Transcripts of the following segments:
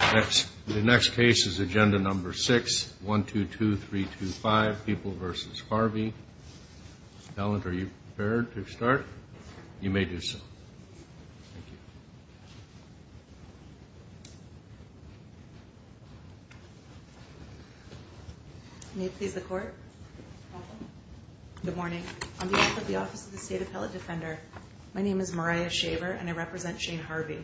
The next case is agenda number 6, 1-2-2-3-2-5, People v. Harvey. Ellen, are you prepared to start? You may do so. Thank you. May it please the Court? Good morning. On behalf of the Office of the State Appellate Defender, my name is Mariah Shaver and I represent Shane Harvey.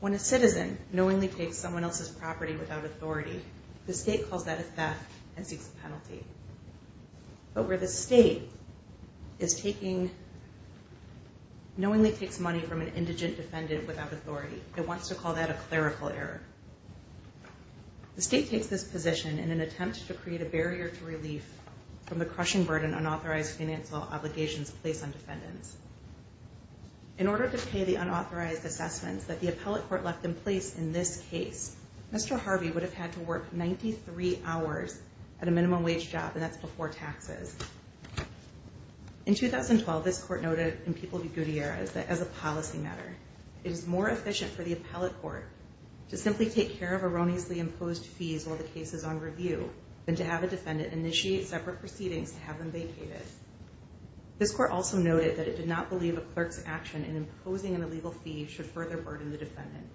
When a citizen knowingly takes someone else's property without authority, the State calls that a theft and seeks a penalty. But where the State is taking, knowingly takes money from an indigent defendant without authority, it wants to call that a clerical error. The State takes this position in an attempt to create a barrier to relief from the crushing burden unauthorized financial obligations place on defendants. In order to pay the unauthorized assessments that the Appellate Court left in place in this case, Mr. Harvey would have had to work 93 hours at a minimum wage job, and that's before taxes. In 2012, this Court noted in People v. Gutierrez that, as a policy matter, it is more efficient for the Appellate Court to simply take care of erroneously imposed fees while the case is on review than to have a defendant initiate separate proceedings to have them vacated. This Court also noted that it did not believe a clerk's action in imposing an illegal fee should further burden the defendant.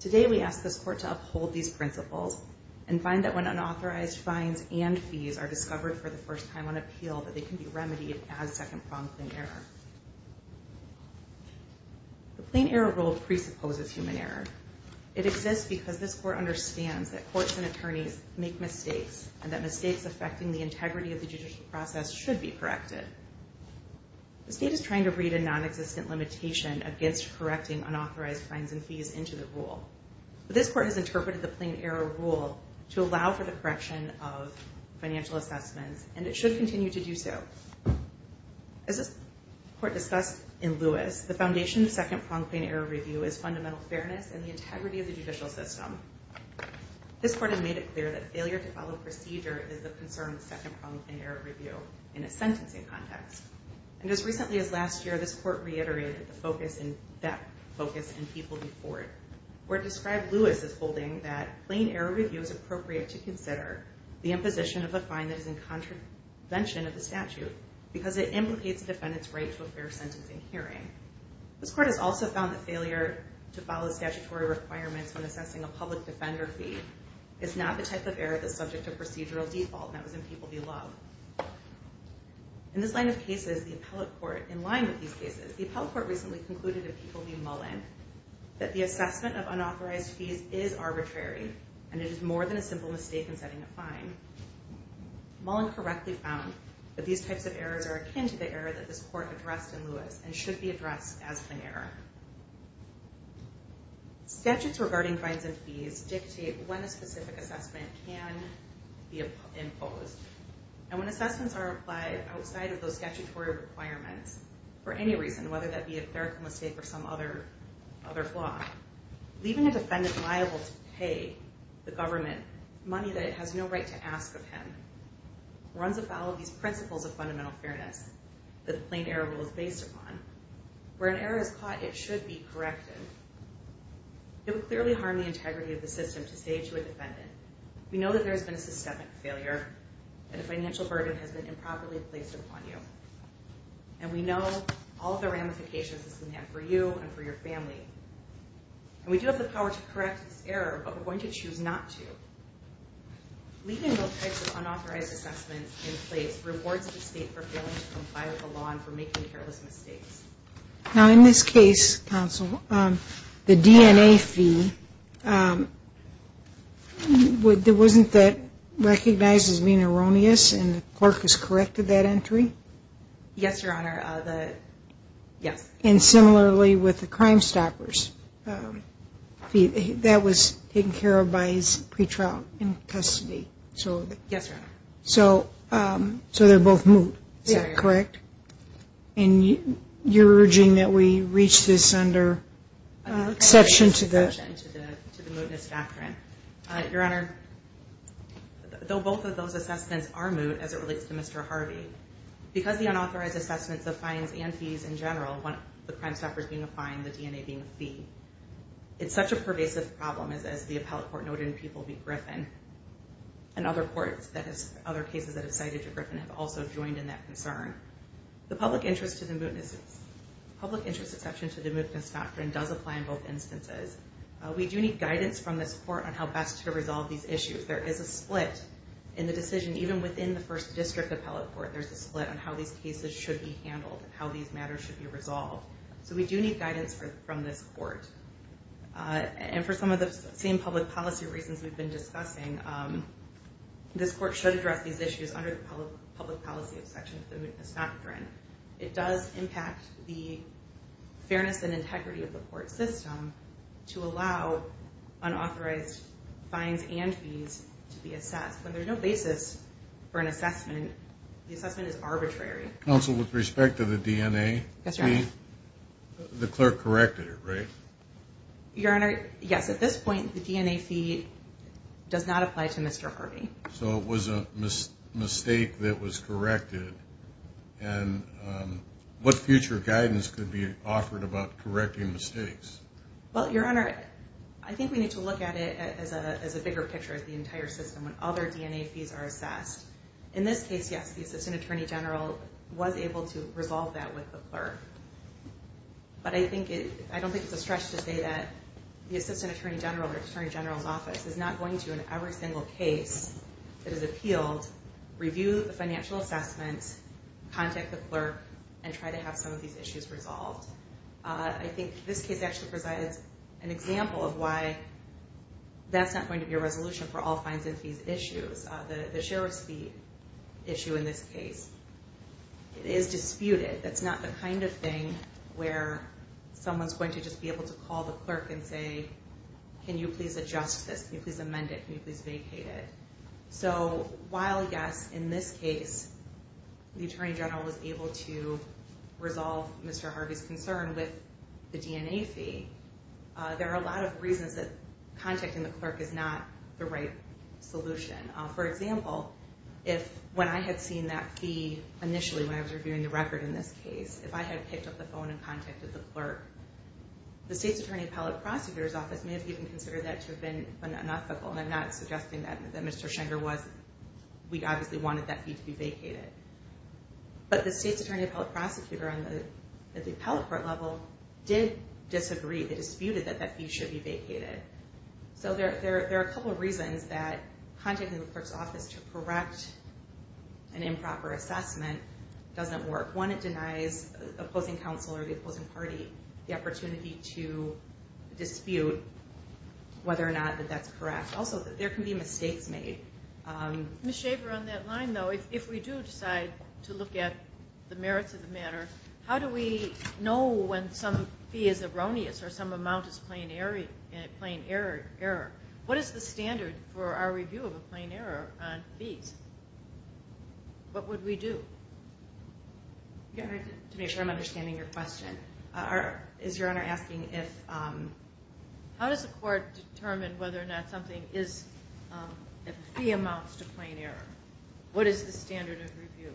Today, we ask this Court to uphold these principles and find that when unauthorized fines and fees are discovered for the first time on appeal, that they can be remedied as second-pronged plain error. The plain error rule presupposes human error. It exists because this Court understands that courts and attorneys make mistakes, and that mistakes affecting the integrity of the judicial process should be corrected. The State is trying to breed a non-existent limitation against correcting unauthorized fines and fees into the rule. This Court has interpreted the plain error rule to allow for the correction of financial assessments, and it should continue to do so. As this Court discussed in Lewis, the foundation of second-pronged plain error review is fundamental fairness and the integrity of the judicial system. This Court has made it clear that failure to follow procedure is of concern in second-pronged plain error review in a sentencing context. And as recently as last year, this Court reiterated that focus in People v. Ford, where it described Lewis as holding that plain error review is appropriate to consider the imposition of a fine that is in contravention of the statute, because it implicates a defendant's right to a fair sentencing hearing. This Court has also found that failure to follow statutory requirements when assessing a public defender fee is not the type of error that's subject to procedural default, and that was in People v. Love. In this line of cases, the appellate court, in line with these cases, the appellate court recently concluded in People v. Mullin that the assessment of unauthorized fees is arbitrary, and it is more than a simple mistake in setting a fine. Mullin correctly found that these types of errors are akin to the error that this Court addressed in Lewis, and should be addressed as plain error. Statutes regarding fines and fees dictate when a specific assessment can be imposed. And when assessments are applied outside of those statutory requirements, for any reason, whether that be a clerical mistake or some other flaw, leaving a defendant liable to pay the government money that it has no right to ask of him, runs afoul of these principles of fundamental fairness that the plain error rule is based upon. Where an error is caught, it should be corrected. It would clearly harm the integrity of the system to say to a defendant, we know that there has been a systemic failure, and a financial burden has been improperly placed upon you. And we know all the ramifications this can have for you and for your family. And we do have the power to correct this error, but we're going to choose not to. Leaving those types of unauthorized assessments in place rewards the State for failing to comply with the law and for making careless mistakes. Now in this case, counsel, the DNA fee, wasn't that recognized as being erroneous, and the clerk has corrected that entry? Yes, Your Honor. Yes. And similarly with the Crimestoppers, that was taken care of by his pretrial in custody. Yes, Your Honor. So they're both moot, is that correct? Yes, Your Honor. And you're urging that we reach this under exception to the... Under exception to the mootness doctrine. Your Honor, though both of those assessments are moot as it relates to Mr. Harvey, because the unauthorized assessments of fines and fees in general, the Crimestoppers being a fine, the DNA being a fee, it's such a pervasive problem, as the appellate court noted in People v. Griffin. And other courts, other cases that have cited to Griffin have also joined in that concern. The public interest exception to the mootness doctrine does apply in both instances. We do need guidance from this court on how best to resolve these issues. There is a split in the decision, even within the first district appellate court, there's a split on how these cases should be handled, how these matters should be resolved. So we do need guidance from this court. And for some of the same public policy reasons we've been discussing, this court should address these issues under the public policy exception to the mootness doctrine. It does impact the fairness and integrity of the court system to allow unauthorized fines and fees to be assessed. When there's no basis for an assessment, the assessment is arbitrary. Counsel, with respect to the DNA fee, the clerk corrected it, right? Your Honor, yes. At this point, the DNA fee does not apply to Mr. Harvey. So it was a mistake that was corrected. And what future guidance could be offered about correcting mistakes? Well, Your Honor, I think we need to look at it as a bigger picture of the entire system when other DNA fees are assessed. In this case, yes, the Assistant Attorney General was able to resolve that with the clerk. But I don't think it's a stretch to say that the Assistant Attorney General or Attorney General's office is not going to, in every single case that is appealed, review the financial assessment, contact the clerk, and try to have some of these issues resolved. I think this case actually provides an example of why that's not going to be a resolution for all fines and fees issues, the share of fee issue in this case. It is disputed. That's not the kind of thing where someone's going to just be able to call the clerk and say, can you please adjust this? Can you please amend it? Can you please vacate it? So while, yes, in this case, the Attorney General was able to resolve Mr. Harvey's concern with the DNA fee, there are a lot of reasons that contacting the clerk is not the right solution. For example, if when I had seen that fee initially when I was reviewing the record in this case, if I had picked up the phone and contacted the clerk, the State's Attorney Appellate Prosecutor's office may have even considered that to have been unethical, and I'm not suggesting that Mr. Schenger was. We obviously wanted that fee to be vacated. But the State's Attorney Appellate Prosecutor at the appellate court level did disagree. They disputed that that fee should be vacated. So there are a couple of reasons that contacting the clerk's office to correct an improper assessment doesn't work. One, it denies opposing counsel or the opposing party the opportunity to dispute whether or not that that's correct. Also, there can be mistakes made. Ms. Schaefer, on that line, though, if we do decide to look at the merits of the matter, how do we know when some fee is erroneous or some amount is plain error? What is the standard for our review of a plain error on fees? What would we do? To make sure I'm understanding your question, is Your Honor asking if... How does the court determine whether or not something is, if a fee amounts to plain error? What is the standard of review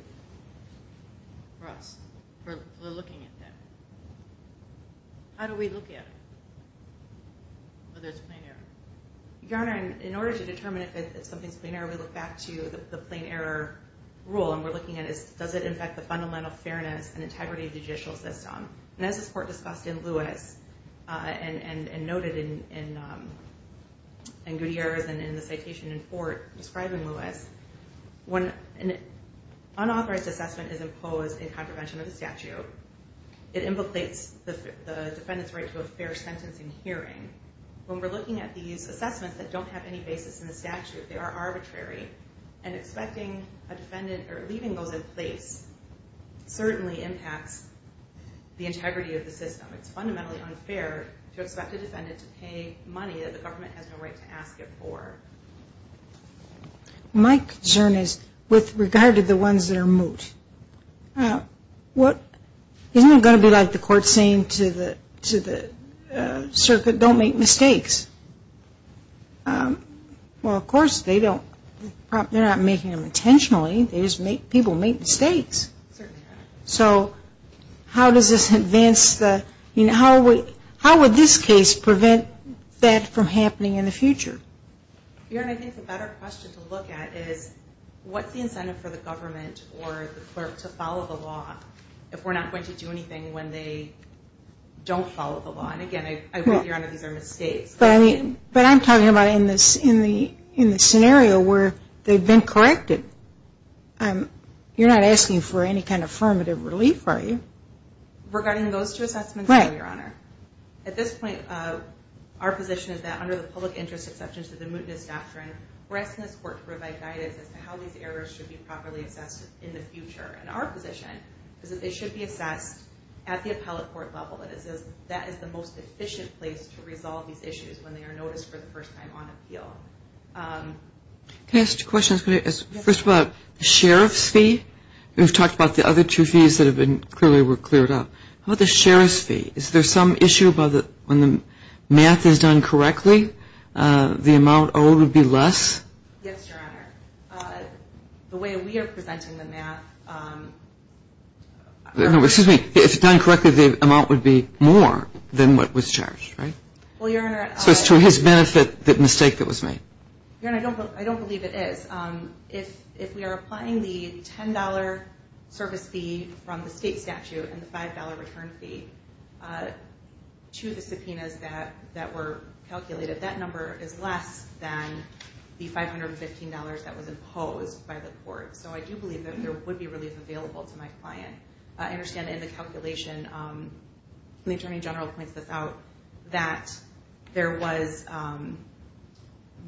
for us, for looking at that? How do we look at whether it's plain error? Your Honor, in order to determine if something's plain error, we look back to the plain error rule. And we're looking at does it affect the fundamental fairness and integrity of the judicial system? And as this court discussed in Lewis and noted in Gutierrez and in the citation in Fort describing Lewis, when an unauthorized assessment is imposed in contravention of the statute, it implicates the defendant's right to a fair sentencing hearing. When we're looking at these assessments that don't have any basis in the statute, they are arbitrary, and expecting a defendant or leaving those in place certainly impacts the integrity of the system. It's fundamentally unfair to expect a defendant to pay money that the government has no right to ask it for. My concern is with regard to the ones that are moot. Isn't it going to be like the court saying to the circuit, don't make mistakes? Well, of course they don't. They're not making them intentionally. They just make people make mistakes. So how does this advance the, you know, how would this case prevent that from happening in the future? Your Honor, I think the better question to look at is what's the incentive for the government or the clerk to follow the law if we're not going to do anything when they don't follow the law? And again, I agree, Your Honor, these are mistakes. But I'm talking about in the scenario where they've been corrected. You're not asking for any kind of affirmative relief, are you? Regarding those two assessments, Your Honor, at this point our position is that under the public interest exceptions to the mootness doctrine, we're asking this court to provide guidance as to how these errors should be properly assessed in the future. And our position is that they should be assessed at the appellate court level. That is the most efficient place to resolve these issues when they are noticed for the first time on appeal. Can I ask two questions? First of all, the sheriff's fee, we've talked about the other two fees that have been clearly were cleared up. How about the sheriff's fee? Is there some issue about when the math is done correctly, the amount owed would be less? Yes, Your Honor. The way we are presenting the math. Excuse me. If it's done correctly, the amount would be more than what was charged, right? Well, Your Honor. So it's to his benefit, the mistake that was made. Your Honor, I don't believe it is. If we are applying the $10 service fee from the state statute and the $5 return fee to the subpoenas that were calculated, that number is less than the $515 that was imposed by the court. So I do believe that there would be relief available to my client. I understand in the calculation, the Attorney General points this out, that there was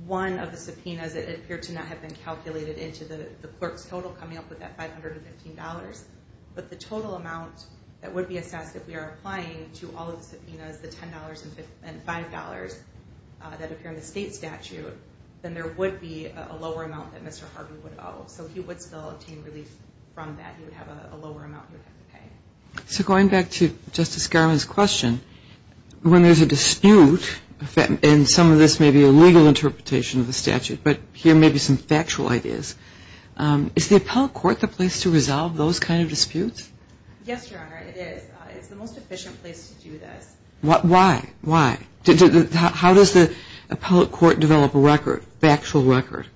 one of the subpoenas that appeared to not have been calculated into the clerk's total coming up with that $515. But the total amount that would be assessed if we are applying to all of the subpoenas, the $10 and $5 that appear in the state statute, then there would be a lower amount that Mr. Harvey would owe. So he would still obtain relief from that. He would have a lower amount he would have to pay. So going back to Justice Garland's question, when there's a dispute, and some of this may be a legal interpretation of the statute, but here may be some factual ideas, is the appellate court the place to resolve those kind of disputes? Yes, Your Honor, it is. It's the most efficient place to do this. Why? Why? How does the appellate court develop a record, factual record?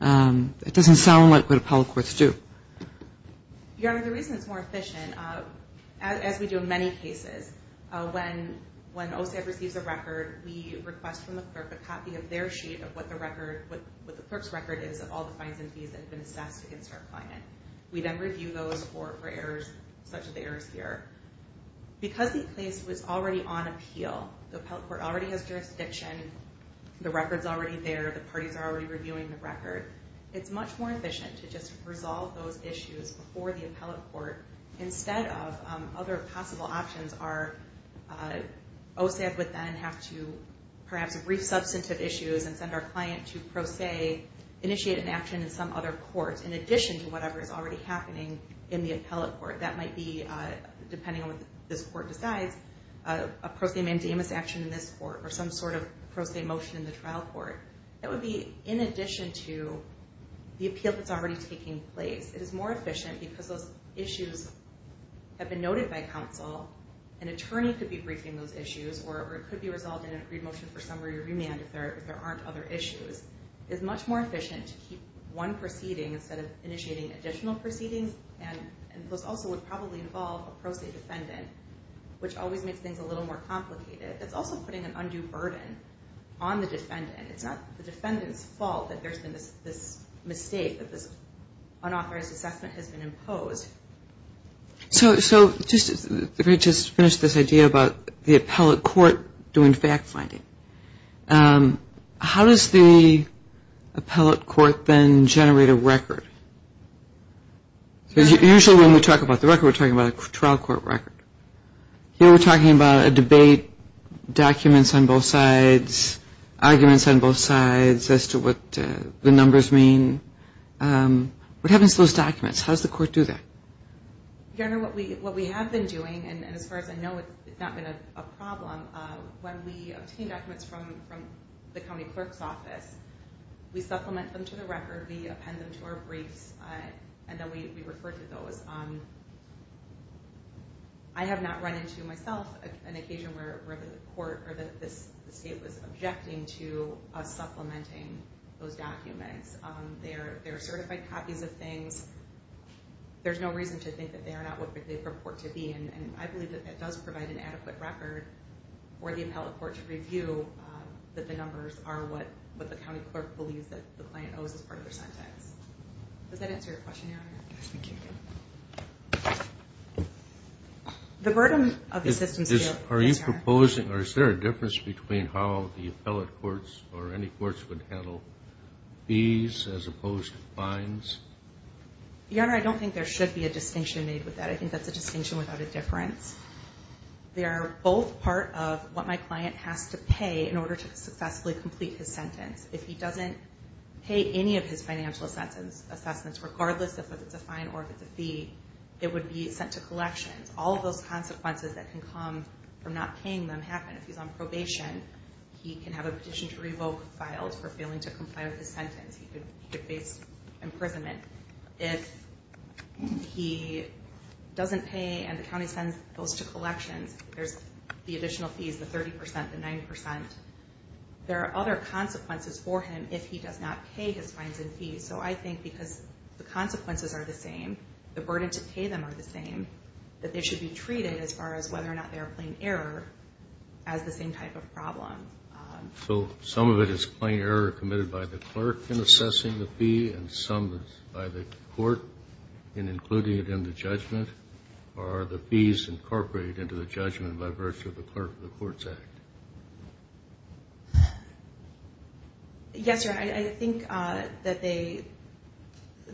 It doesn't sound like what appellate courts do. Your Honor, the reason it's more efficient, as we do in many cases, when OSA receives a record, we request from the clerk a copy of their sheet of what the clerk's record is of all the fines and fees that have been assessed against our client. We then review those for errors such as the errors here. Because the case was already on appeal, the appellate court already has jurisdiction, the record's already there, the parties are already reviewing the record, it's much more efficient to just resolve those issues before the appellate court instead of other possible options are OSA would then have to perhaps resubstantive issues and send our client to pro se, initiate an action in some other court in addition to whatever is already happening in the appellate court. That might be, depending on what this court decides, a pro se mandamus action in this court or some sort of pro se motion in the trial court. That would be in addition to the appeal that's already taking place. It is more efficient because those issues have been noted by counsel. An attorney could be briefing those issues or it could be resolved in an agreed motion for summary remand if there aren't other issues. It's much more efficient to keep one proceeding instead of initiating additional proceedings and this also would probably involve a pro se defendant, which always makes things a little more complicated. It's also putting an undue burden on the defendant. It's not the defendant's fault that there's been this mistake, that this unauthorized assessment has been imposed. So we just finished this idea about the appellate court doing fact finding. How does the appellate court then generate a record? Usually when we talk about the record, we're talking about a trial court record. Here we're talking about a debate, documents on both sides, arguments on both sides as to what the numbers mean. What happens to those documents? How does the court do that? Governor, what we have been doing, and as far as I know it's not been a problem, when we obtain documents from the county clerk's office, we supplement them to the record, we append them to our briefs, and then we refer to those. I have not run into myself an occasion where the state was objecting to us supplementing those documents. They are certified copies of things. There's no reason to think that they are not what they purport to be, and I believe that that does provide an adequate record for the appellate court to review that the numbers are what the county clerk believes that the client owes as part of their sentence. Does that answer your question, Your Honor? Yes, thank you. The burden of the system still... Are you proposing, or is there a difference between how the appellate courts or any courts would handle fees as opposed to fines? Your Honor, I don't think there should be a distinction made with that. I think that's a distinction without a difference. They are both part of what my client has to pay in order to successfully complete his sentence. If he doesn't pay any of his financial assessments, regardless if it's a fine or if it's a fee, it would be sent to collections. All of those consequences that can come from not paying them happen. If he's on probation, he can have a petition to revoke filed for failing to comply with his sentence. He could face imprisonment. If he doesn't pay and the county sends those to collections, there's the additional fees, the 30 percent, the 90 percent. There are other consequences for him if he does not pay his fines and fees. So I think because the consequences are the same, the burden to pay them are the same, that they should be treated as far as whether or not they are a plain error as the same type of problem. So some of it is plain error committed by the clerk in assessing the fee and some by the court in including it in the judgment? Or are the fees incorporated into the judgment by virtue of the court's act? Yes, Your Honor, I think that the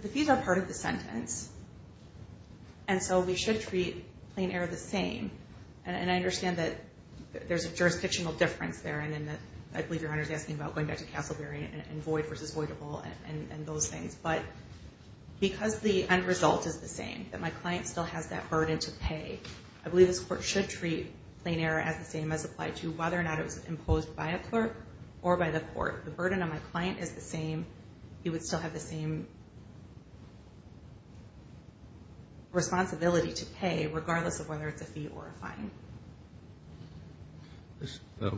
fees are part of the sentence. And so we should treat plain error the same. And I understand that there's a jurisdictional difference there, and I believe Your Honor is asking about going back to Castleberry and void versus voidable and those things. But because the end result is the same, that my client still has that burden to pay, I believe this court should treat plain error as the same as applied to whether or not it was imposed by a clerk or by the court. The burden on my client is the same. He would still have the same responsibility to pay, regardless of whether it's a fee or a fine.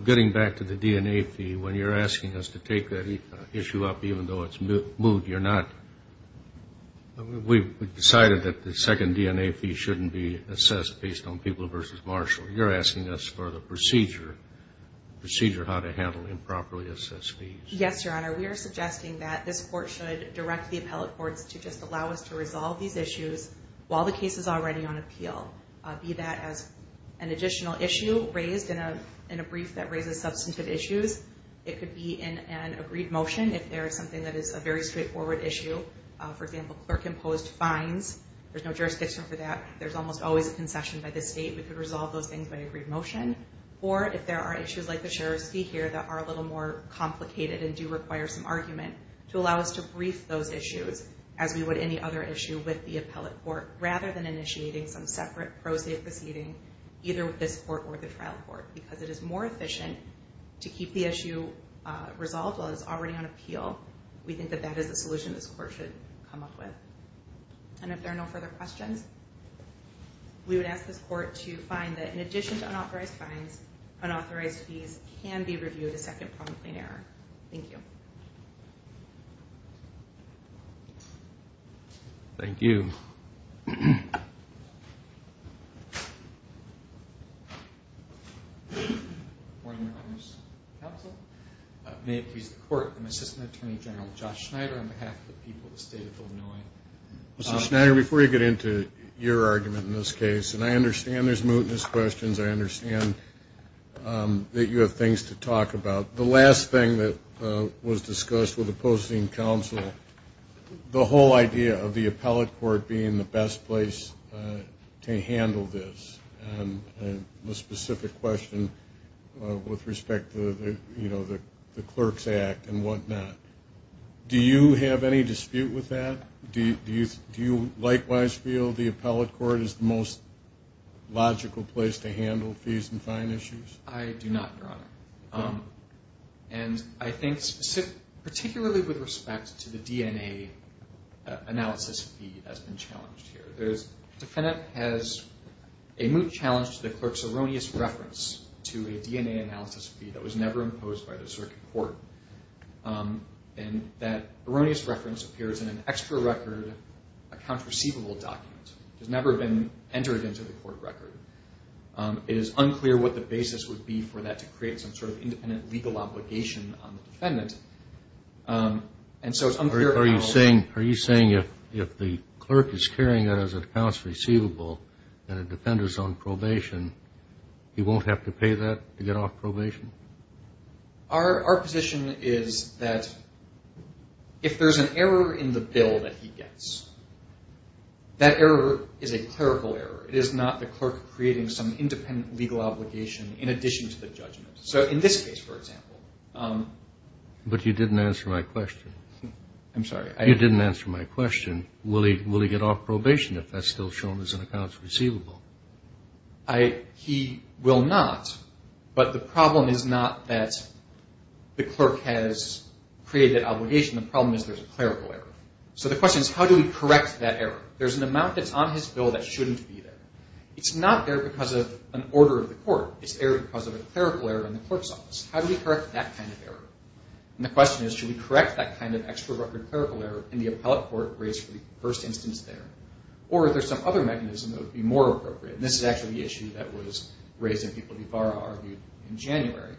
Getting back to the DNA fee, when you're asking us to take that issue up, even though it's moved, we've decided that the second DNA fee shouldn't be assessed based on people versus Marshall. You're asking us for the procedure how to handle improperly assessed fees. Yes, Your Honor, we are suggesting that this court should direct the appellate courts to just allow us to resolve these issues while the case is already on appeal, be that as an additional issue raised in a brief that raises substantive issues. It could be in an agreed motion if there is something that is a very straightforward issue. For example, clerk-imposed fines, there's no jurisdiction for that. There's almost always a concession by the state. We could resolve those things by agreed motion. Or if there are issues like the sheriff's fee here that are a little more complicated and do require some argument, to allow us to brief those issues as we would any other issue with the appellate court, rather than initiating some separate pro se proceeding, either with this court or the trial court. Because it is more efficient to keep the issue resolved while it's already on appeal, we think that that is a solution this court should come up with. And if there are no further questions, we would ask this court to find that, in addition to unauthorized fines, unauthorized fees can be reviewed as second prompt plain error. Thank you. Thank you. Good morning, Your Honor's counsel. May it please the court, I'm Assistant Attorney General Josh Schneider on behalf of the people of the state of Illinois. Mr. Schneider, before you get into your argument in this case, and I understand there's mootness questions, I understand that you have things to talk about. The last thing that was discussed with opposing counsel, the whole idea of the appellate court being the best place to handle this, and the specific question with respect to, you know, the Clerk's Act and whatnot. Do you have any dispute with that? Do you likewise feel the appellate court is the most logical place to handle fees and fine issues? I do not, Your Honor. And I think particularly with respect to the DNA analysis fee that's been challenged here. The defendant has a moot challenge to the clerk's erroneous reference to a DNA analysis fee that was never imposed by the circuit court. And that erroneous reference appears in an extra record, a counter receivable document, which has never been entered into the court record. It is unclear what the basis would be for that to create some sort of independent legal obligation on the defendant. And so it's unclear how... Are you saying if the clerk is carrying it as a counts receivable and the defendant is on probation, he won't have to pay that to get off probation? Our position is that if there's an error in the bill that he gets, that error is a clerical error. It is not the clerk creating some independent legal obligation in addition to the judgment. So in this case, for example... But you didn't answer my question. I'm sorry. You didn't answer my question. Will he get off probation if that's still shown as a counts receivable? He will not, but the problem is not that the clerk has created that obligation. The problem is there's a clerical error. So the question is, how do we correct that error? There's an amount that's on his bill that shouldn't be there. It's not there because of an order of the court. It's there because of a clerical error in the clerk's office. How do we correct that kind of error? And the question is, should we correct that kind of extravagant clerical error in the appellate court raised for the first instance there? Or is there some other mechanism that would be more appropriate? And this is actually the issue that was raised in people that Yvara argued in January.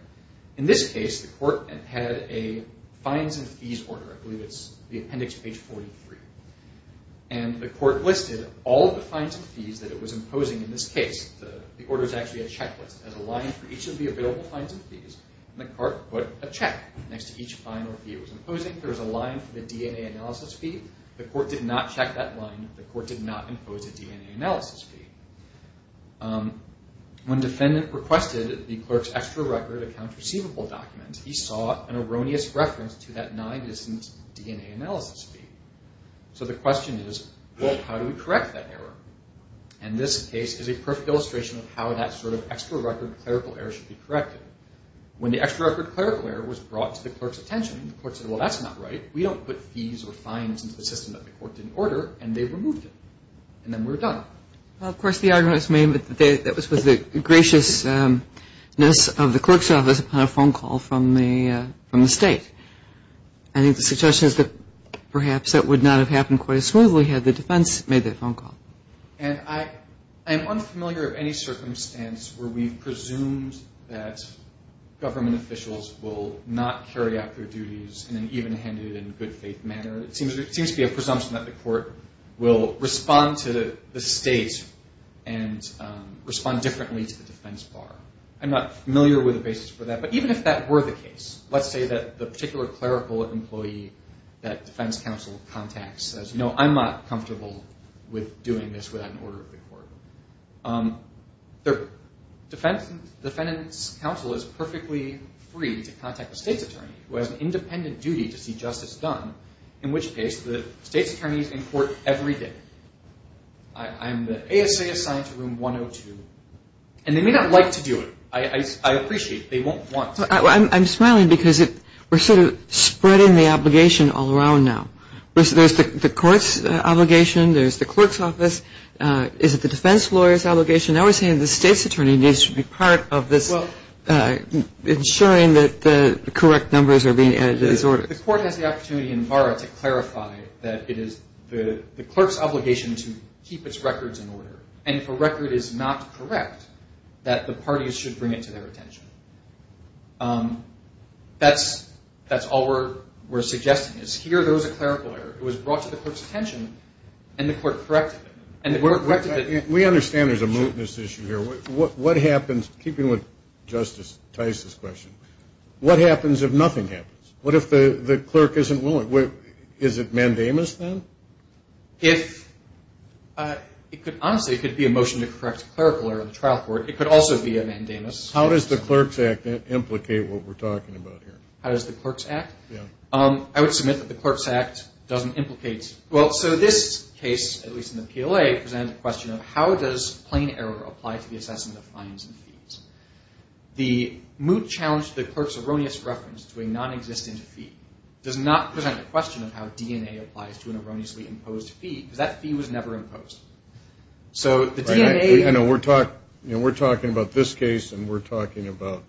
In this case, the court had a fines and fees order. I believe it's the appendix page 43. And the court listed all the fines and fees that it was imposing in this case. The order is actually a checklist. It has a line for each of the available fines and fees. And the court put a check next to each fine or fee it was imposing. There is a line for the DNA analysis fee. The court did not check that line. The court did not impose a DNA analysis fee. When defendant requested the clerk's extra record accounts receivable document, he saw an erroneous reference to that non-existent DNA analysis fee. So the question is, well, how do we correct that error? And this case is a perfect illustration of how that sort of extra record clerical error should be corrected. When the extra record clerical error was brought to the clerk's attention, the court said, well, that's not right. We don't put fees or fines into the system that the court didn't order. And they removed it. And then we're done. Well, of course, the argument is made that that was with the graciousness of the clerk's office upon a phone call from the state. I think the suggestion is that perhaps that would not have happened quite as smoothly had the defense made that phone call. And I'm unfamiliar of any circumstance where we've presumed that government officials will not carry out their duties in an even-handed and good-faith manner. It seems to be a presumption that the court will respond to the state and respond differently to the defense bar. I'm not familiar with the basis for that. But even if that were the case, let's say that the particular clerical employee that defense counsel contacts says, you know, I'm not comfortable with doing this without an order of the court. The defense counsel is perfectly free to contact the state's attorney, who has an independent duty to see justice done, in which case the state's attorney is in court every day. I'm the ASA assigned to Room 102. And they may not like to do it. I appreciate it. They won't want to. I'm smiling because we're sort of spreading the obligation all around now. There's the court's obligation. There's the clerk's office. Is it the defense lawyer's obligation? Now we're saying the state's attorney needs to be part of this, ensuring that the correct numbers are being added to this order. The court has the opportunity in barra to clarify that it is the clerk's obligation to keep its records in order. And if a record is not correct, that the parties should bring it to their attention. That's all we're suggesting is here goes a clerical lawyer who was brought to the clerk's attention and the court corrected him. We understand there's a mootness issue here. What happens, keeping with Justice Tice's question, what happens if nothing happens? What if the clerk isn't willing? Is it mandamus then? Honestly, it could be a motion to correct clerical error in the trial court. It could also be a mandamus. How does the Clerk's Act implicate what we're talking about here? How does the Clerk's Act? I would submit that the Clerk's Act doesn't implicate. Well, so this case, at least in the PLA, presents a question of how does plain error apply to the assessment of fines and fees? The moot challenge to the clerk's erroneous reference to a nonexistent fee does not present a question of how DNA applies to an erroneously imposed fee, because that fee was never imposed. I know we're talking about this case and we're talking about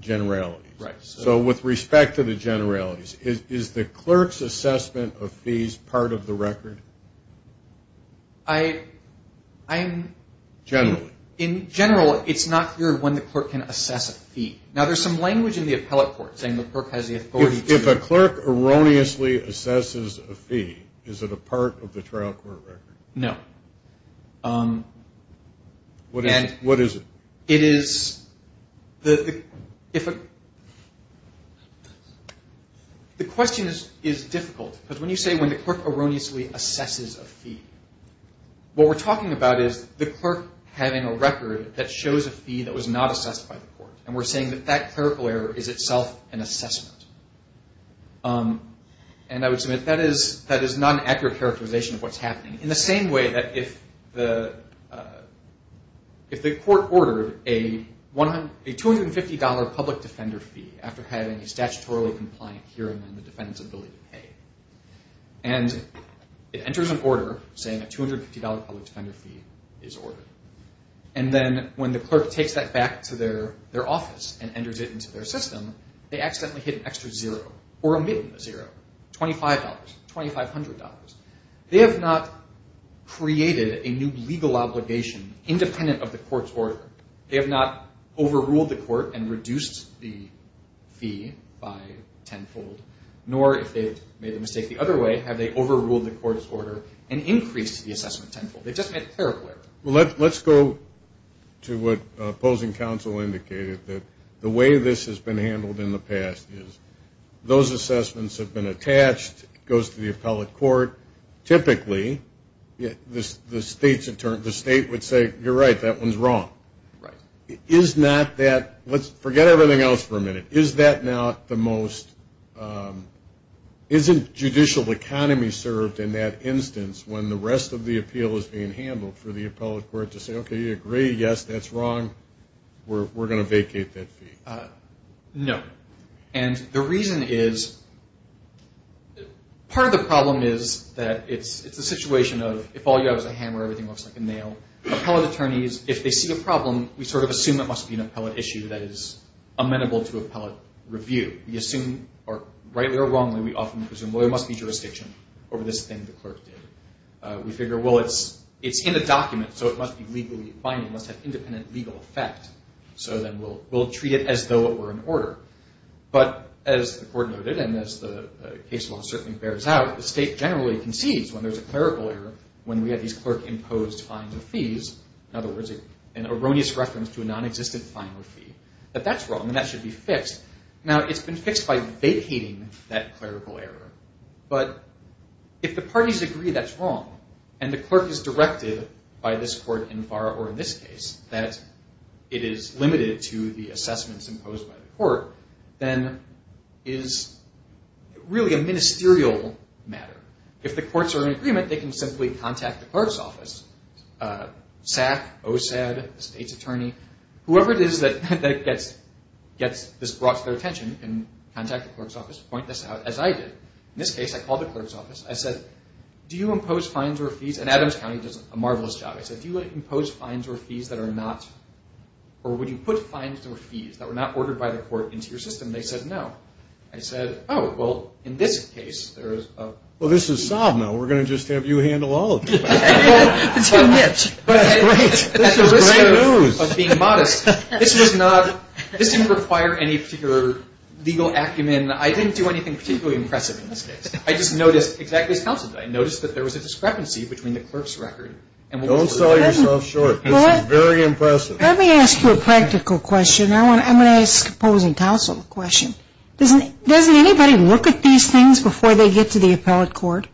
generalities. So with respect to the generalities, is the clerk's assessment of fees part of the record? In general, it's not clear when the clerk can assess a fee. Now, there's some language in the appellate court saying the clerk has the authority to. If a clerk erroneously assesses a fee, is it a part of the trial court record? No. What is it? It is the question is difficult, because when you say when the clerk erroneously assesses a fee, what we're talking about is the clerk having a record that shows a fee that was not assessed by the court, and we're saying that that clerical error is itself an assessment. And I would submit that is not an accurate characterization of what's happening. In the same way that if the court ordered a $250 public defender fee after having a statutorily compliant hearing and the defendant's ability to pay, and it enters an order saying a $250 public defender fee is ordered, and then when the clerk takes that back to their office and enters it into their system, they accidentally hit an extra zero or omit the zero, $25, $2,500. They have not created a new legal obligation independent of the court's order. They have not overruled the court and reduced the fee by tenfold, nor if they've made a mistake the other way have they overruled the court's order and increased the assessment tenfold. They just made a clerical error. Well, let's go to what opposing counsel indicated, that the way this has been handled in the past is those assessments have been attached, goes to the appellate court. Typically, the state would say, you're right, that one's wrong. Right. Is not that – let's forget everything else for a minute. Is that not the most – isn't judicial economy served in that instance when the rest of the appeal is being handled for the appellate court to say, okay, you agree, yes, that's wrong, we're going to vacate that fee? No. And the reason is part of the problem is that it's a situation of if all you have is a hammer, everything looks like a nail. Appellate attorneys, if they see a problem, we sort of assume it must be an appellate issue that is amenable to appellate review. We assume, rightly or wrongly, we often assume, well, there must be jurisdiction over this thing the clerk did. We figure, well, it's in a document, so it must be legally binding, must have independent legal effect. So then we'll treat it as though it were in order. But as the court noted, and as the case law certainly bears out, the state generally concedes when there's a clerical error, when we have these clerk-imposed fines and fees, in other words, an erroneous reference to a nonexistent fine or fee, that that's wrong and that should be fixed. Now, it's been fixed by vacating that clerical error. But if the parties agree that's wrong and the clerk is directed by this court in this case that it is limited to the assessments imposed by the court, then it is really a ministerial matter. If the courts are in agreement, they can simply contact the clerk's office, SAC, OSAD, the state's attorney, whoever it is that gets this brought to their attention can contact the clerk's office, point this out, as I did. In this case, I called the clerk's office. I said, do you impose fines or fees? And Adams County does a marvelous job. I said, do you impose fines or fees that are not, or would you put fines or fees that were not ordered by the court into your system? They said, no. I said, oh, well, in this case, there is a... Well, this is sob now. We're going to just have you handle all of it. It's too much. That's great. This is great news. I was being modest. This was not, this didn't require any particular legal acumen. I didn't do anything particularly impressive in this case. I just noticed exactly as counsel did. I noticed that there was a discrepancy between the clerk's record. Don't sell yourself short. This is very impressive. Let me ask you a practical question. I'm going to ask a opposing counsel a question. Doesn't anybody look at these things before they get to the appellate court?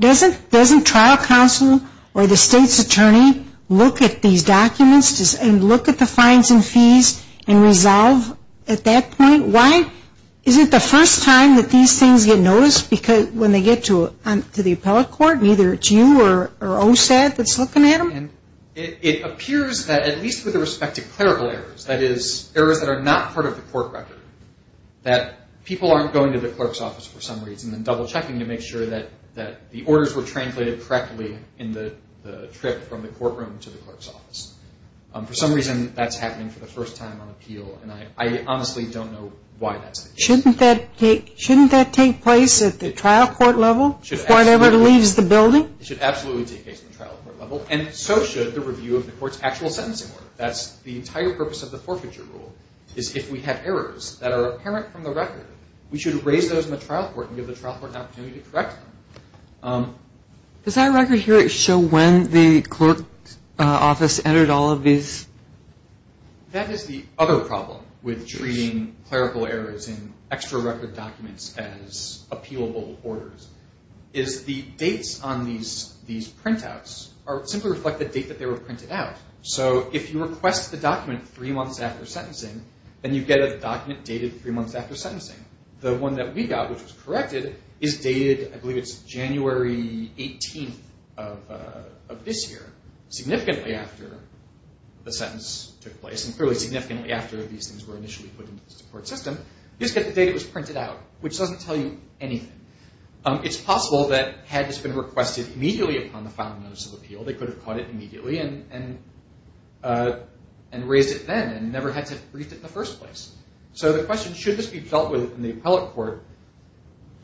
Doesn't trial counsel or the state's attorney look at these documents and look at the fines and fees and resolve at that point? Why isn't the first time that these things get noticed because when they get to the appellate court, neither it's you or OSAD that's looking at them? It appears that at least with respect to clerical errors, that is errors that are not part of the court record, that people aren't going to the clerk's office for some reason and double-checking to make sure that the orders were translated correctly in the trip from the courtroom to the clerk's office. For some reason, that's happening for the first time on appeal, and I honestly don't know why that's the case. Shouldn't that take place at the trial court level before it ever leaves the building? It should absolutely take place at the trial court level, and so should the review of the court's actual sentencing order. The entire purpose of the forfeiture rule is if we have errors that are apparent from the record, we should raise those in the trial court and give the trial court an opportunity to correct them. Does that record here show when the clerk's office entered all of these? That is the other problem with treating clerical errors in extra-record documents as appealable orders, is the dates on these printouts simply reflect the date that they were printed out. So if you request the document three months after sentencing, then you get a document dated three months after sentencing. The one that we got, which was corrected, is dated, I believe it's January 18th of this year, significantly after the sentence took place, and clearly significantly after these things were initially put into the support system. You just get the date it was printed out, which doesn't tell you anything. It's possible that had this been requested immediately upon the final notice of appeal, they could have caught it immediately and raised it then and never had to have briefed it in the first place. So the question, should this be dealt with in the appellate court?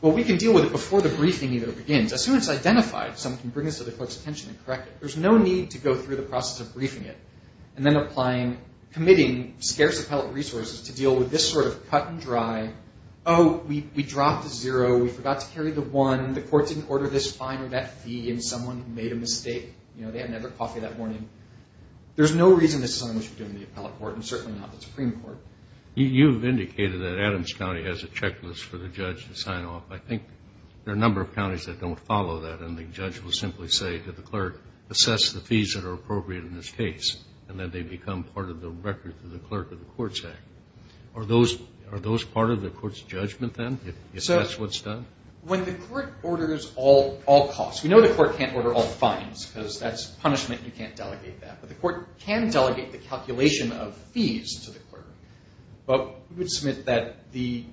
Well, we can deal with it before the briefing either begins. As soon as it's identified, someone can bring this to the clerk's attention and correct it. There's no need to go through the process of briefing it and then committing scarce appellate resources to deal with this sort of cut and dry, oh, we dropped a zero, we forgot to carry the one, the court didn't order this fine or that fee, and someone made a mistake. They hadn't had their coffee that morning. There's no reason this is something we should do in the appellate court and certainly not the Supreme Court. You've indicated that Adams County has a checklist for the judge to sign off. I think there are a number of counties that don't follow that, and the judge will simply say to the clerk, assess the fees that are appropriate in this case, and then they become part of the record to the clerk of the Courts Act. Are those part of the court's judgment then, if that's what's done? When the court orders all costs, we know the court can't order all fines because that's punishment and you can't delegate that, but the court can delegate the calculation of fees to the clerk, but we would submit that the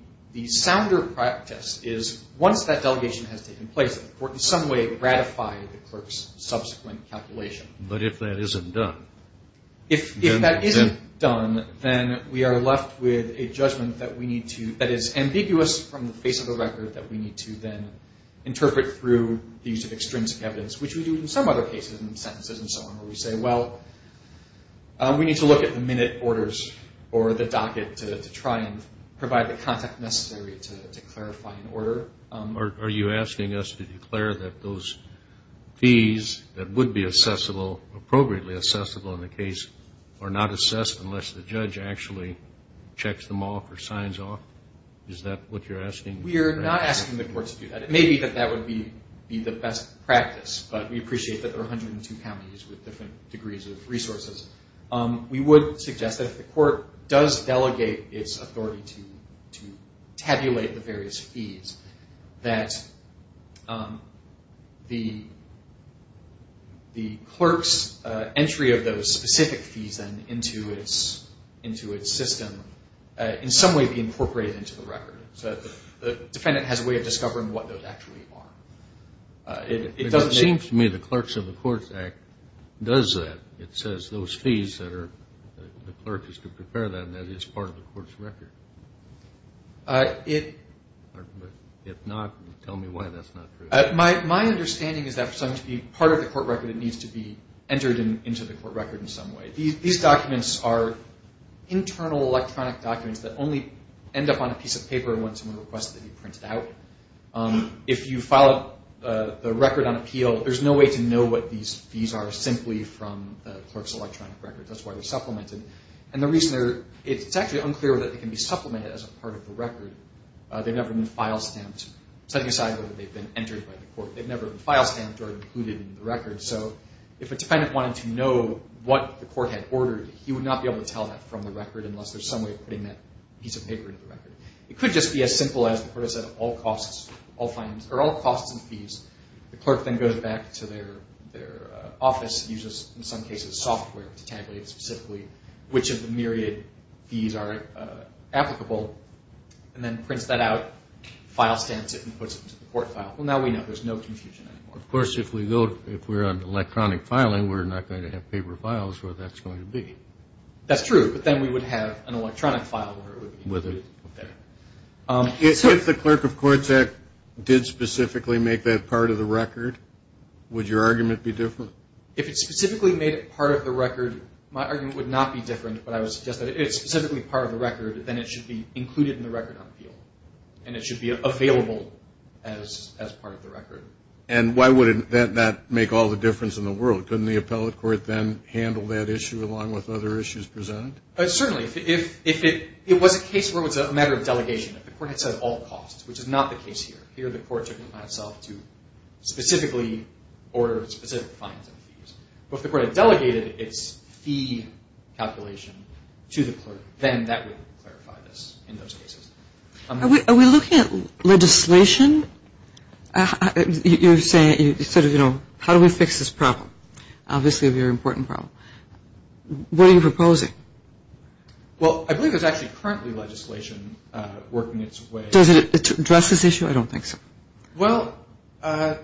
sounder practice is once that delegation has taken place, that the court in some way ratified the clerk's subsequent calculation. But if that isn't done? If that isn't done, then we are left with a judgment that we need to, that is ambiguous from the face of the record, that we need to then interpret through the use of extrinsic evidence, which we do in some other cases in sentences and so on, where we say, well, we need to look at the minute orders or the docket to try and provide the context necessary to clarify an order. Are you asking us to declare that those fees that would be assessable, appropriately assessable in the case, are not assessed unless the judge actually checks them off or signs off? Is that what you're asking? We are not asking the court to do that. It may be that that would be the best practice, but we appreciate that there are 102 counties with different degrees of resources. We would suggest that if the court does delegate its authority to tabulate the various fees, that the clerk's entry of those specific fees then into its system in some way be incorporated into the record, so that the defendant has a way of discovering what those actually are. It doesn't seem to me the Clerks of the Courts Act does that. It says those fees that the clerk is to prepare them, that is part of the court's record. If not, tell me why that's not true. My understanding is that for something to be part of the court record, it needs to be entered into the court record in some way. These documents are internal electronic documents that only end up on a piece of paper when someone requests that they be printed out. If you file the record on appeal, there's no way to know what these fees are simply from the clerk's electronic record. That's why they're supplemented. It's actually unclear whether they can be supplemented as a part of the record. They've never been file stamped. Setting aside whether they've been entered by the court, they've never been file stamped or included in the record. If a defendant wanted to know what the court had ordered, he would not be able to tell that from the record unless there's some way of putting that piece of paper into the record. It could just be as simple as the court has said all costs and fees. The clerk then goes back to their office, uses in some cases software to tabulate specifically which of the myriad fees are applicable, and then prints that out, file stamps it, and puts it into the court file. Well, now we know. There's no confusion anymore. Of course, if we're on electronic filing, we're not going to have paper files where that's going to be. That's true, but then we would have an electronic file where it would be. If the Clerk of Courts Act did specifically make that part of the record, would your argument be different? If it specifically made it part of the record, my argument would not be different, but I would suggest that if it's specifically part of the record, then it should be included in the record on appeal, and it should be available as part of the record. And why would that not make all the difference in the world? Couldn't the appellate court then handle that issue along with other issues presented? Certainly. If it was a case where it was a matter of delegation, if the court had said all costs, which is not the case here. Here the court took it upon itself to specifically order specific fines and fees. But if the court had delegated its fee calculation to the clerk, then that would clarify this in those cases. Are we looking at legislation? You're saying sort of, you know, how do we fix this problem? Obviously a very important problem. What are you proposing? Well, I believe there's actually currently legislation working its way. Does it address this issue? I don't think so. Well, let's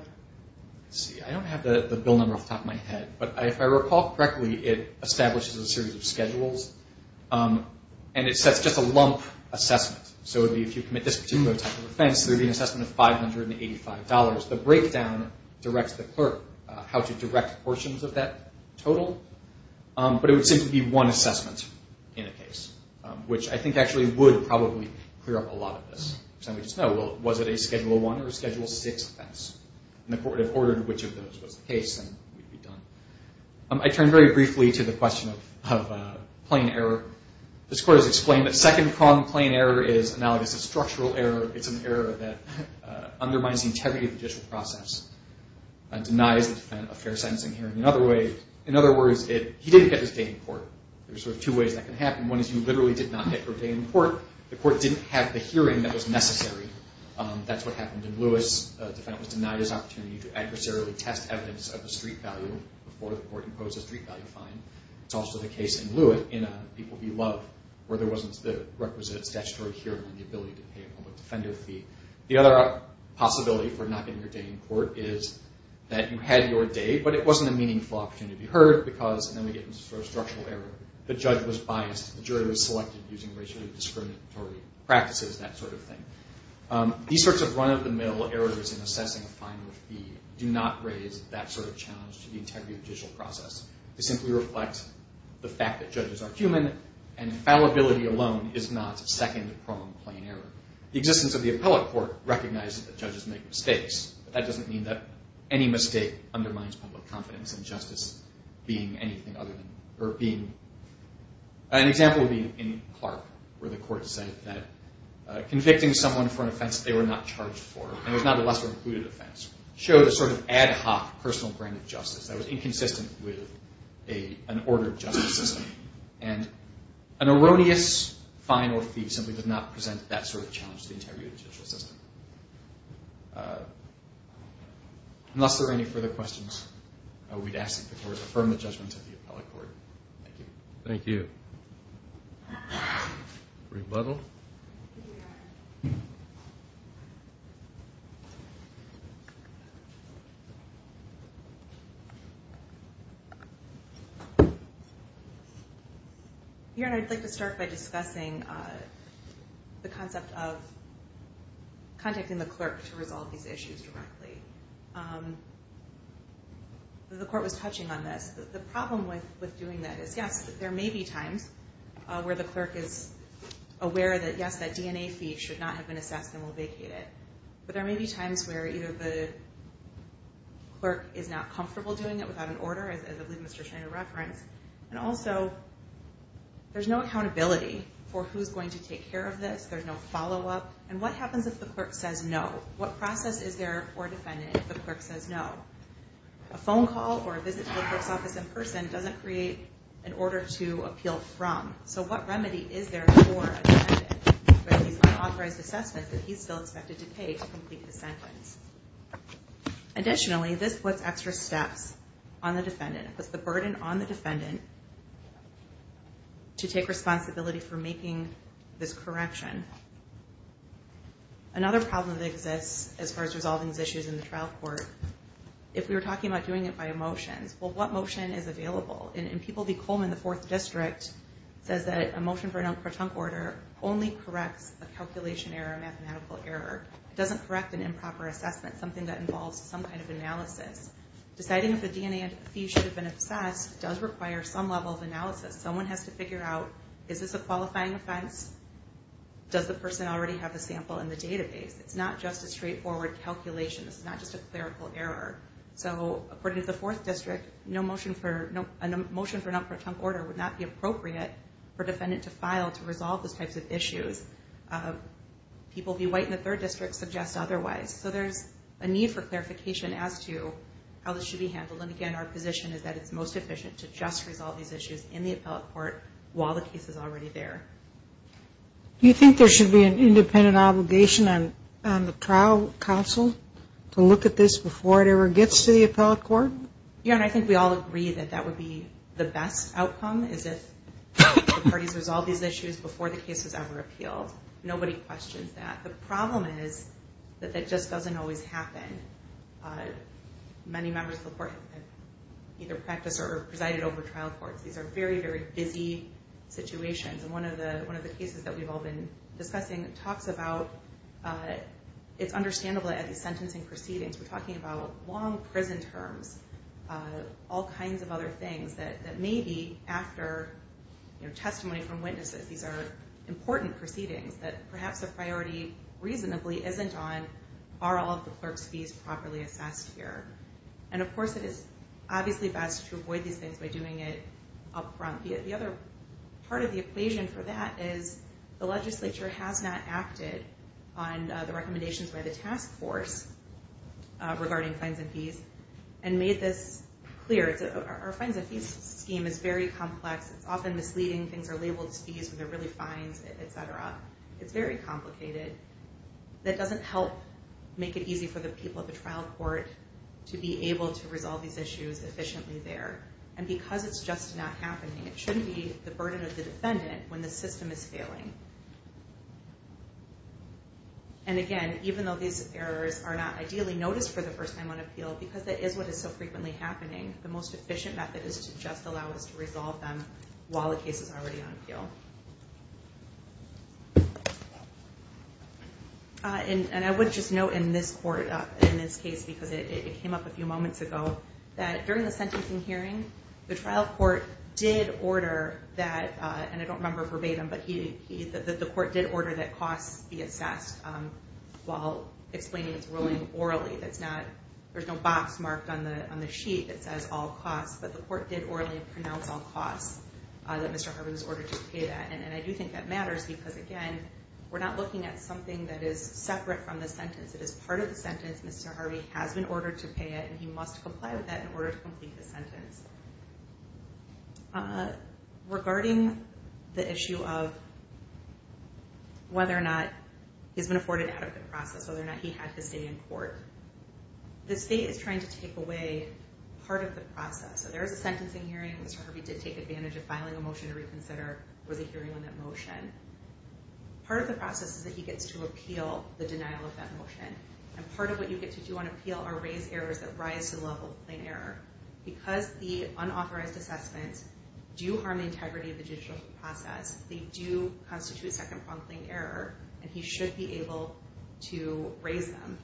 see. I don't have the bill number off the top of my head. But if I recall correctly, it establishes a series of schedules, and it sets just a lump assessment. So it would be if you commit this particular type of offense, there would be an assessment of $585. The breakdown directs the clerk how to direct portions of that total. But it would simply be one assessment in a case, which I think actually would probably clear up a lot of this. So we just know, well, was it a Schedule I or a Schedule VI offense? And the court would have ordered which of those was the case, and we'd be done. I turn very briefly to the question of plain error. This court has explained that second-pronged plain error is analogous to structural error. It's an error that undermines the integrity of the judicial process and denies the defendant a fair sentencing hearing. In other words, he didn't get his day in court. There are sort of two ways that can happen. One is you literally did not get your day in court. The court didn't have the hearing that was necessary. That's what happened in Lewis. A defendant was denied his opportunity to adversarially test evidence of the street value before the court imposed a street value fine. It's also the case in Lewis in People v. Love, where there wasn't the requisite statutory hearing and the ability to pay a public defender fee. The other possibility for not getting your day in court is that you had your day, but it wasn't a meaningful opportunity to be heard because then we get into structural error. The judge was biased. The jury was selected using racially discriminatory practices, that sort of thing. These sorts of run-of-the-mill errors in assessing a final fee do not raise that sort of challenge to the integrity of the judicial process. They simply reflect the fact that judges are human, and fallibility alone is not second-pronged plain error. The existence of the appellate court recognizes that judges make mistakes, but that doesn't mean that any mistake undermines public confidence in justice being anything other than, or being, an example would be in Clark, where the court said that convicting someone for an offense they were not charged for, and it was not a lesser-included offense, show the sort of ad hoc personal brand of justice that was inconsistent with an ordered justice system. And an erroneous final fee simply does not present that sort of challenge to the integrity of the judicial system. Unless there are any further questions, we'd ask that the court affirm the judgment of the appellate court. Thank you. Thank you. Rebuttal. Your Honor, I'd like to start by discussing the concept of contacting the clerk to resolve these issues directly. The court was touching on this. The problem with doing that is, yes, there may be times where the clerk is aware that, yes, that DNA fee should not have been assessed and will vacate it. But there may be times where either the clerk is not comfortable doing it without an order, as I believe Mr. Schneider referenced, and also there's no accountability for who's going to take care of this. There's no follow-up. And what happens if the clerk says no? What process is there for a defendant if the clerk says no? A phone call or a visit to the clerk's office in person doesn't create an order to appeal from. So what remedy is there for a defendant with these unauthorized assessments that he's still expected to pay to complete the sentence? Additionally, this puts extra steps on the defendant. It puts the burden on the defendant to take responsibility for making this correction. Another problem that exists as far as resolving these issues in the trial court, if we were talking about doing it by a motion, well, what motion is available? In People v. Coleman, the 4th District, it says that a motion for a non-croton order only corrects a calculation error, a mathematical error. It doesn't correct an improper assessment, something that involves some kind of analysis. Deciding if the DNA fee should have been assessed does require some level of analysis. Someone has to figure out, is this a qualifying offense? Does the person already have the sample in the database? It's not just a straightforward calculation. This is not just a clerical error. So according to the 4th District, a motion for a non-croton order would not be appropriate for a defendant to file to resolve those types of issues. People v. White in the 3rd District suggest otherwise. So there's a need for clarification as to how this should be handled. And again, our position is that it's most efficient to just resolve these issues in the appellate court while the case is already there. Do you think there should be an independent obligation on the trial counsel to look at this before it ever gets to the appellate court? Yeah, and I think we all agree that that would be the best outcome, is if the parties resolve these issues before the case is ever appealed. Nobody questions that. The problem is that that just doesn't always happen. Many members of the court have either practiced or presided over trial courts. These are very, very busy situations. And one of the cases that we've all been discussing talks about, it's understandable at these sentencing proceedings, we're talking about long prison terms, all kinds of other things that may be after testimony from witnesses. These are important proceedings that perhaps a priority reasonably isn't on are all of the clerk's fees properly assessed here. And of course, it is obviously best to avoid these things by doing it up front. The other part of the equation for that is the legislature has not acted on the recommendations by the task force regarding fines and fees and made this clear. Our fines and fees scheme is very complex. It's often misleading. Things are labeled as fees when they're really fines, et cetera. It's very complicated. That doesn't help make it easy for the people at the trial court to be able to resolve these issues efficiently there. And because it's just not happening, it shouldn't be the burden of the defendant when the system is failing. And again, even though these errors are not ideally noticed for the first time on appeal, because that is what is so frequently happening, the most efficient method is to just allow us to resolve them while the case is already on appeal. And I would just note in this court, in this case, because it came up a few moments ago, that during the sentencing hearing, the trial court did order that, and I don't remember verbatim, but the court did order that costs be assessed while explaining its ruling orally. There's no box marked on the sheet that says all costs, but the court did orally pronounce all costs, that Mr. Harvey was ordered to pay that. And I do think that matters because, again, we're not looking at something that is separate from the sentence. It is part of the sentence. Mr. Harvey has been ordered to pay it, and he must comply with that in order to complete the sentence. Regarding the issue of whether or not he's been afforded an adequate process, whether or not he had to stay in court, the state is trying to take away part of the process. So there is a sentencing hearing in which Mr. Harvey did take advantage of filing a motion to reconsider, or the hearing on that motion. Part of the process is that he gets to appeal the denial of that motion. And part of what you get to do on appeal are raise errors that rise to the level of plain error. Because the unauthorized assessments do harm the integrity of the judicial process, they do constitute second-pronged plain error, and he should be able to raise them.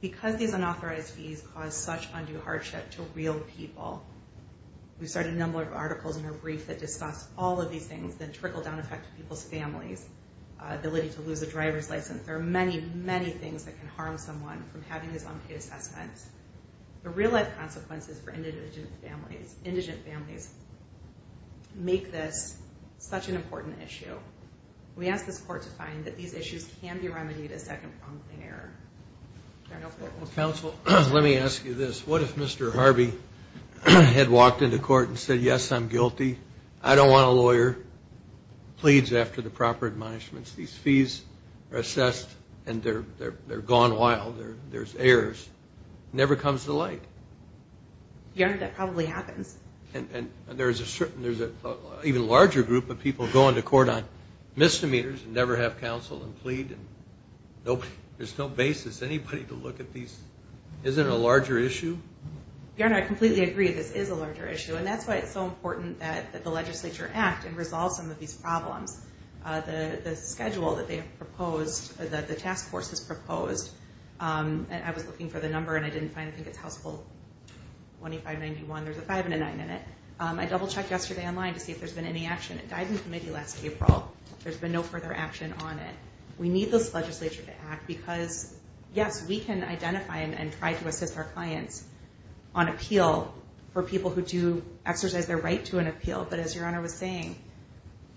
Because these unauthorized fees cause such undue hardship to real people, we've started a number of articles in our brief that discuss all of these things, the trickle-down effect to people's families, ability to lose a driver's license. There are many, many things that can harm someone from having these unpaid assessments. The real-life consequences for indigent families make this such an important issue. We ask this Court to find that these issues can be remedied as second-pronged plain error. Counsel, let me ask you this. What if Mr. Harvey had walked into court and said, yes, I'm guilty. I don't want a lawyer. Pleads after the proper admonishments. These fees are assessed, and they're gone wild. There's errors. It never comes to light. Your Honor, that probably happens. And there's an even larger group of people going to court on misdemeanors and never have counsel and plead. There's no basis. Anybody to look at these. Isn't it a larger issue? Your Honor, I completely agree that this is a larger issue, and that's why it's so important that the legislature act and resolve some of these problems. The schedule that they have proposed, the task force has proposed, and I was looking for the number, and I didn't find it. I think it's House Bill 2591. There's a five and a nine in it. I double-checked yesterday online to see if there's been any action. It died in committee last April. There's been no further action on it. We need this legislature to act because, yes, we can identify and try to assist our clients on appeal for people who do exercise their right to an appeal. But as Your Honor was saying,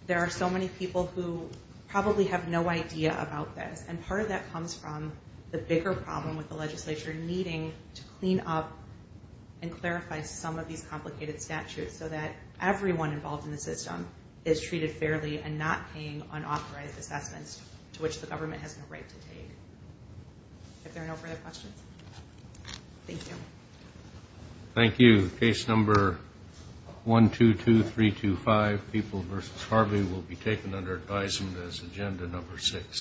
there are so many people who probably have no idea about this. And part of that comes from the bigger problem with the legislature needing to clean up and clarify some of these complicated statutes so that everyone involved in the system is treated fairly and not paying unauthorized assessments, to which the government has no right to take. Are there no further questions? Thank you. Thank you. Case number 122325, People v. Harvey, will be taken under advisement as agenda number six.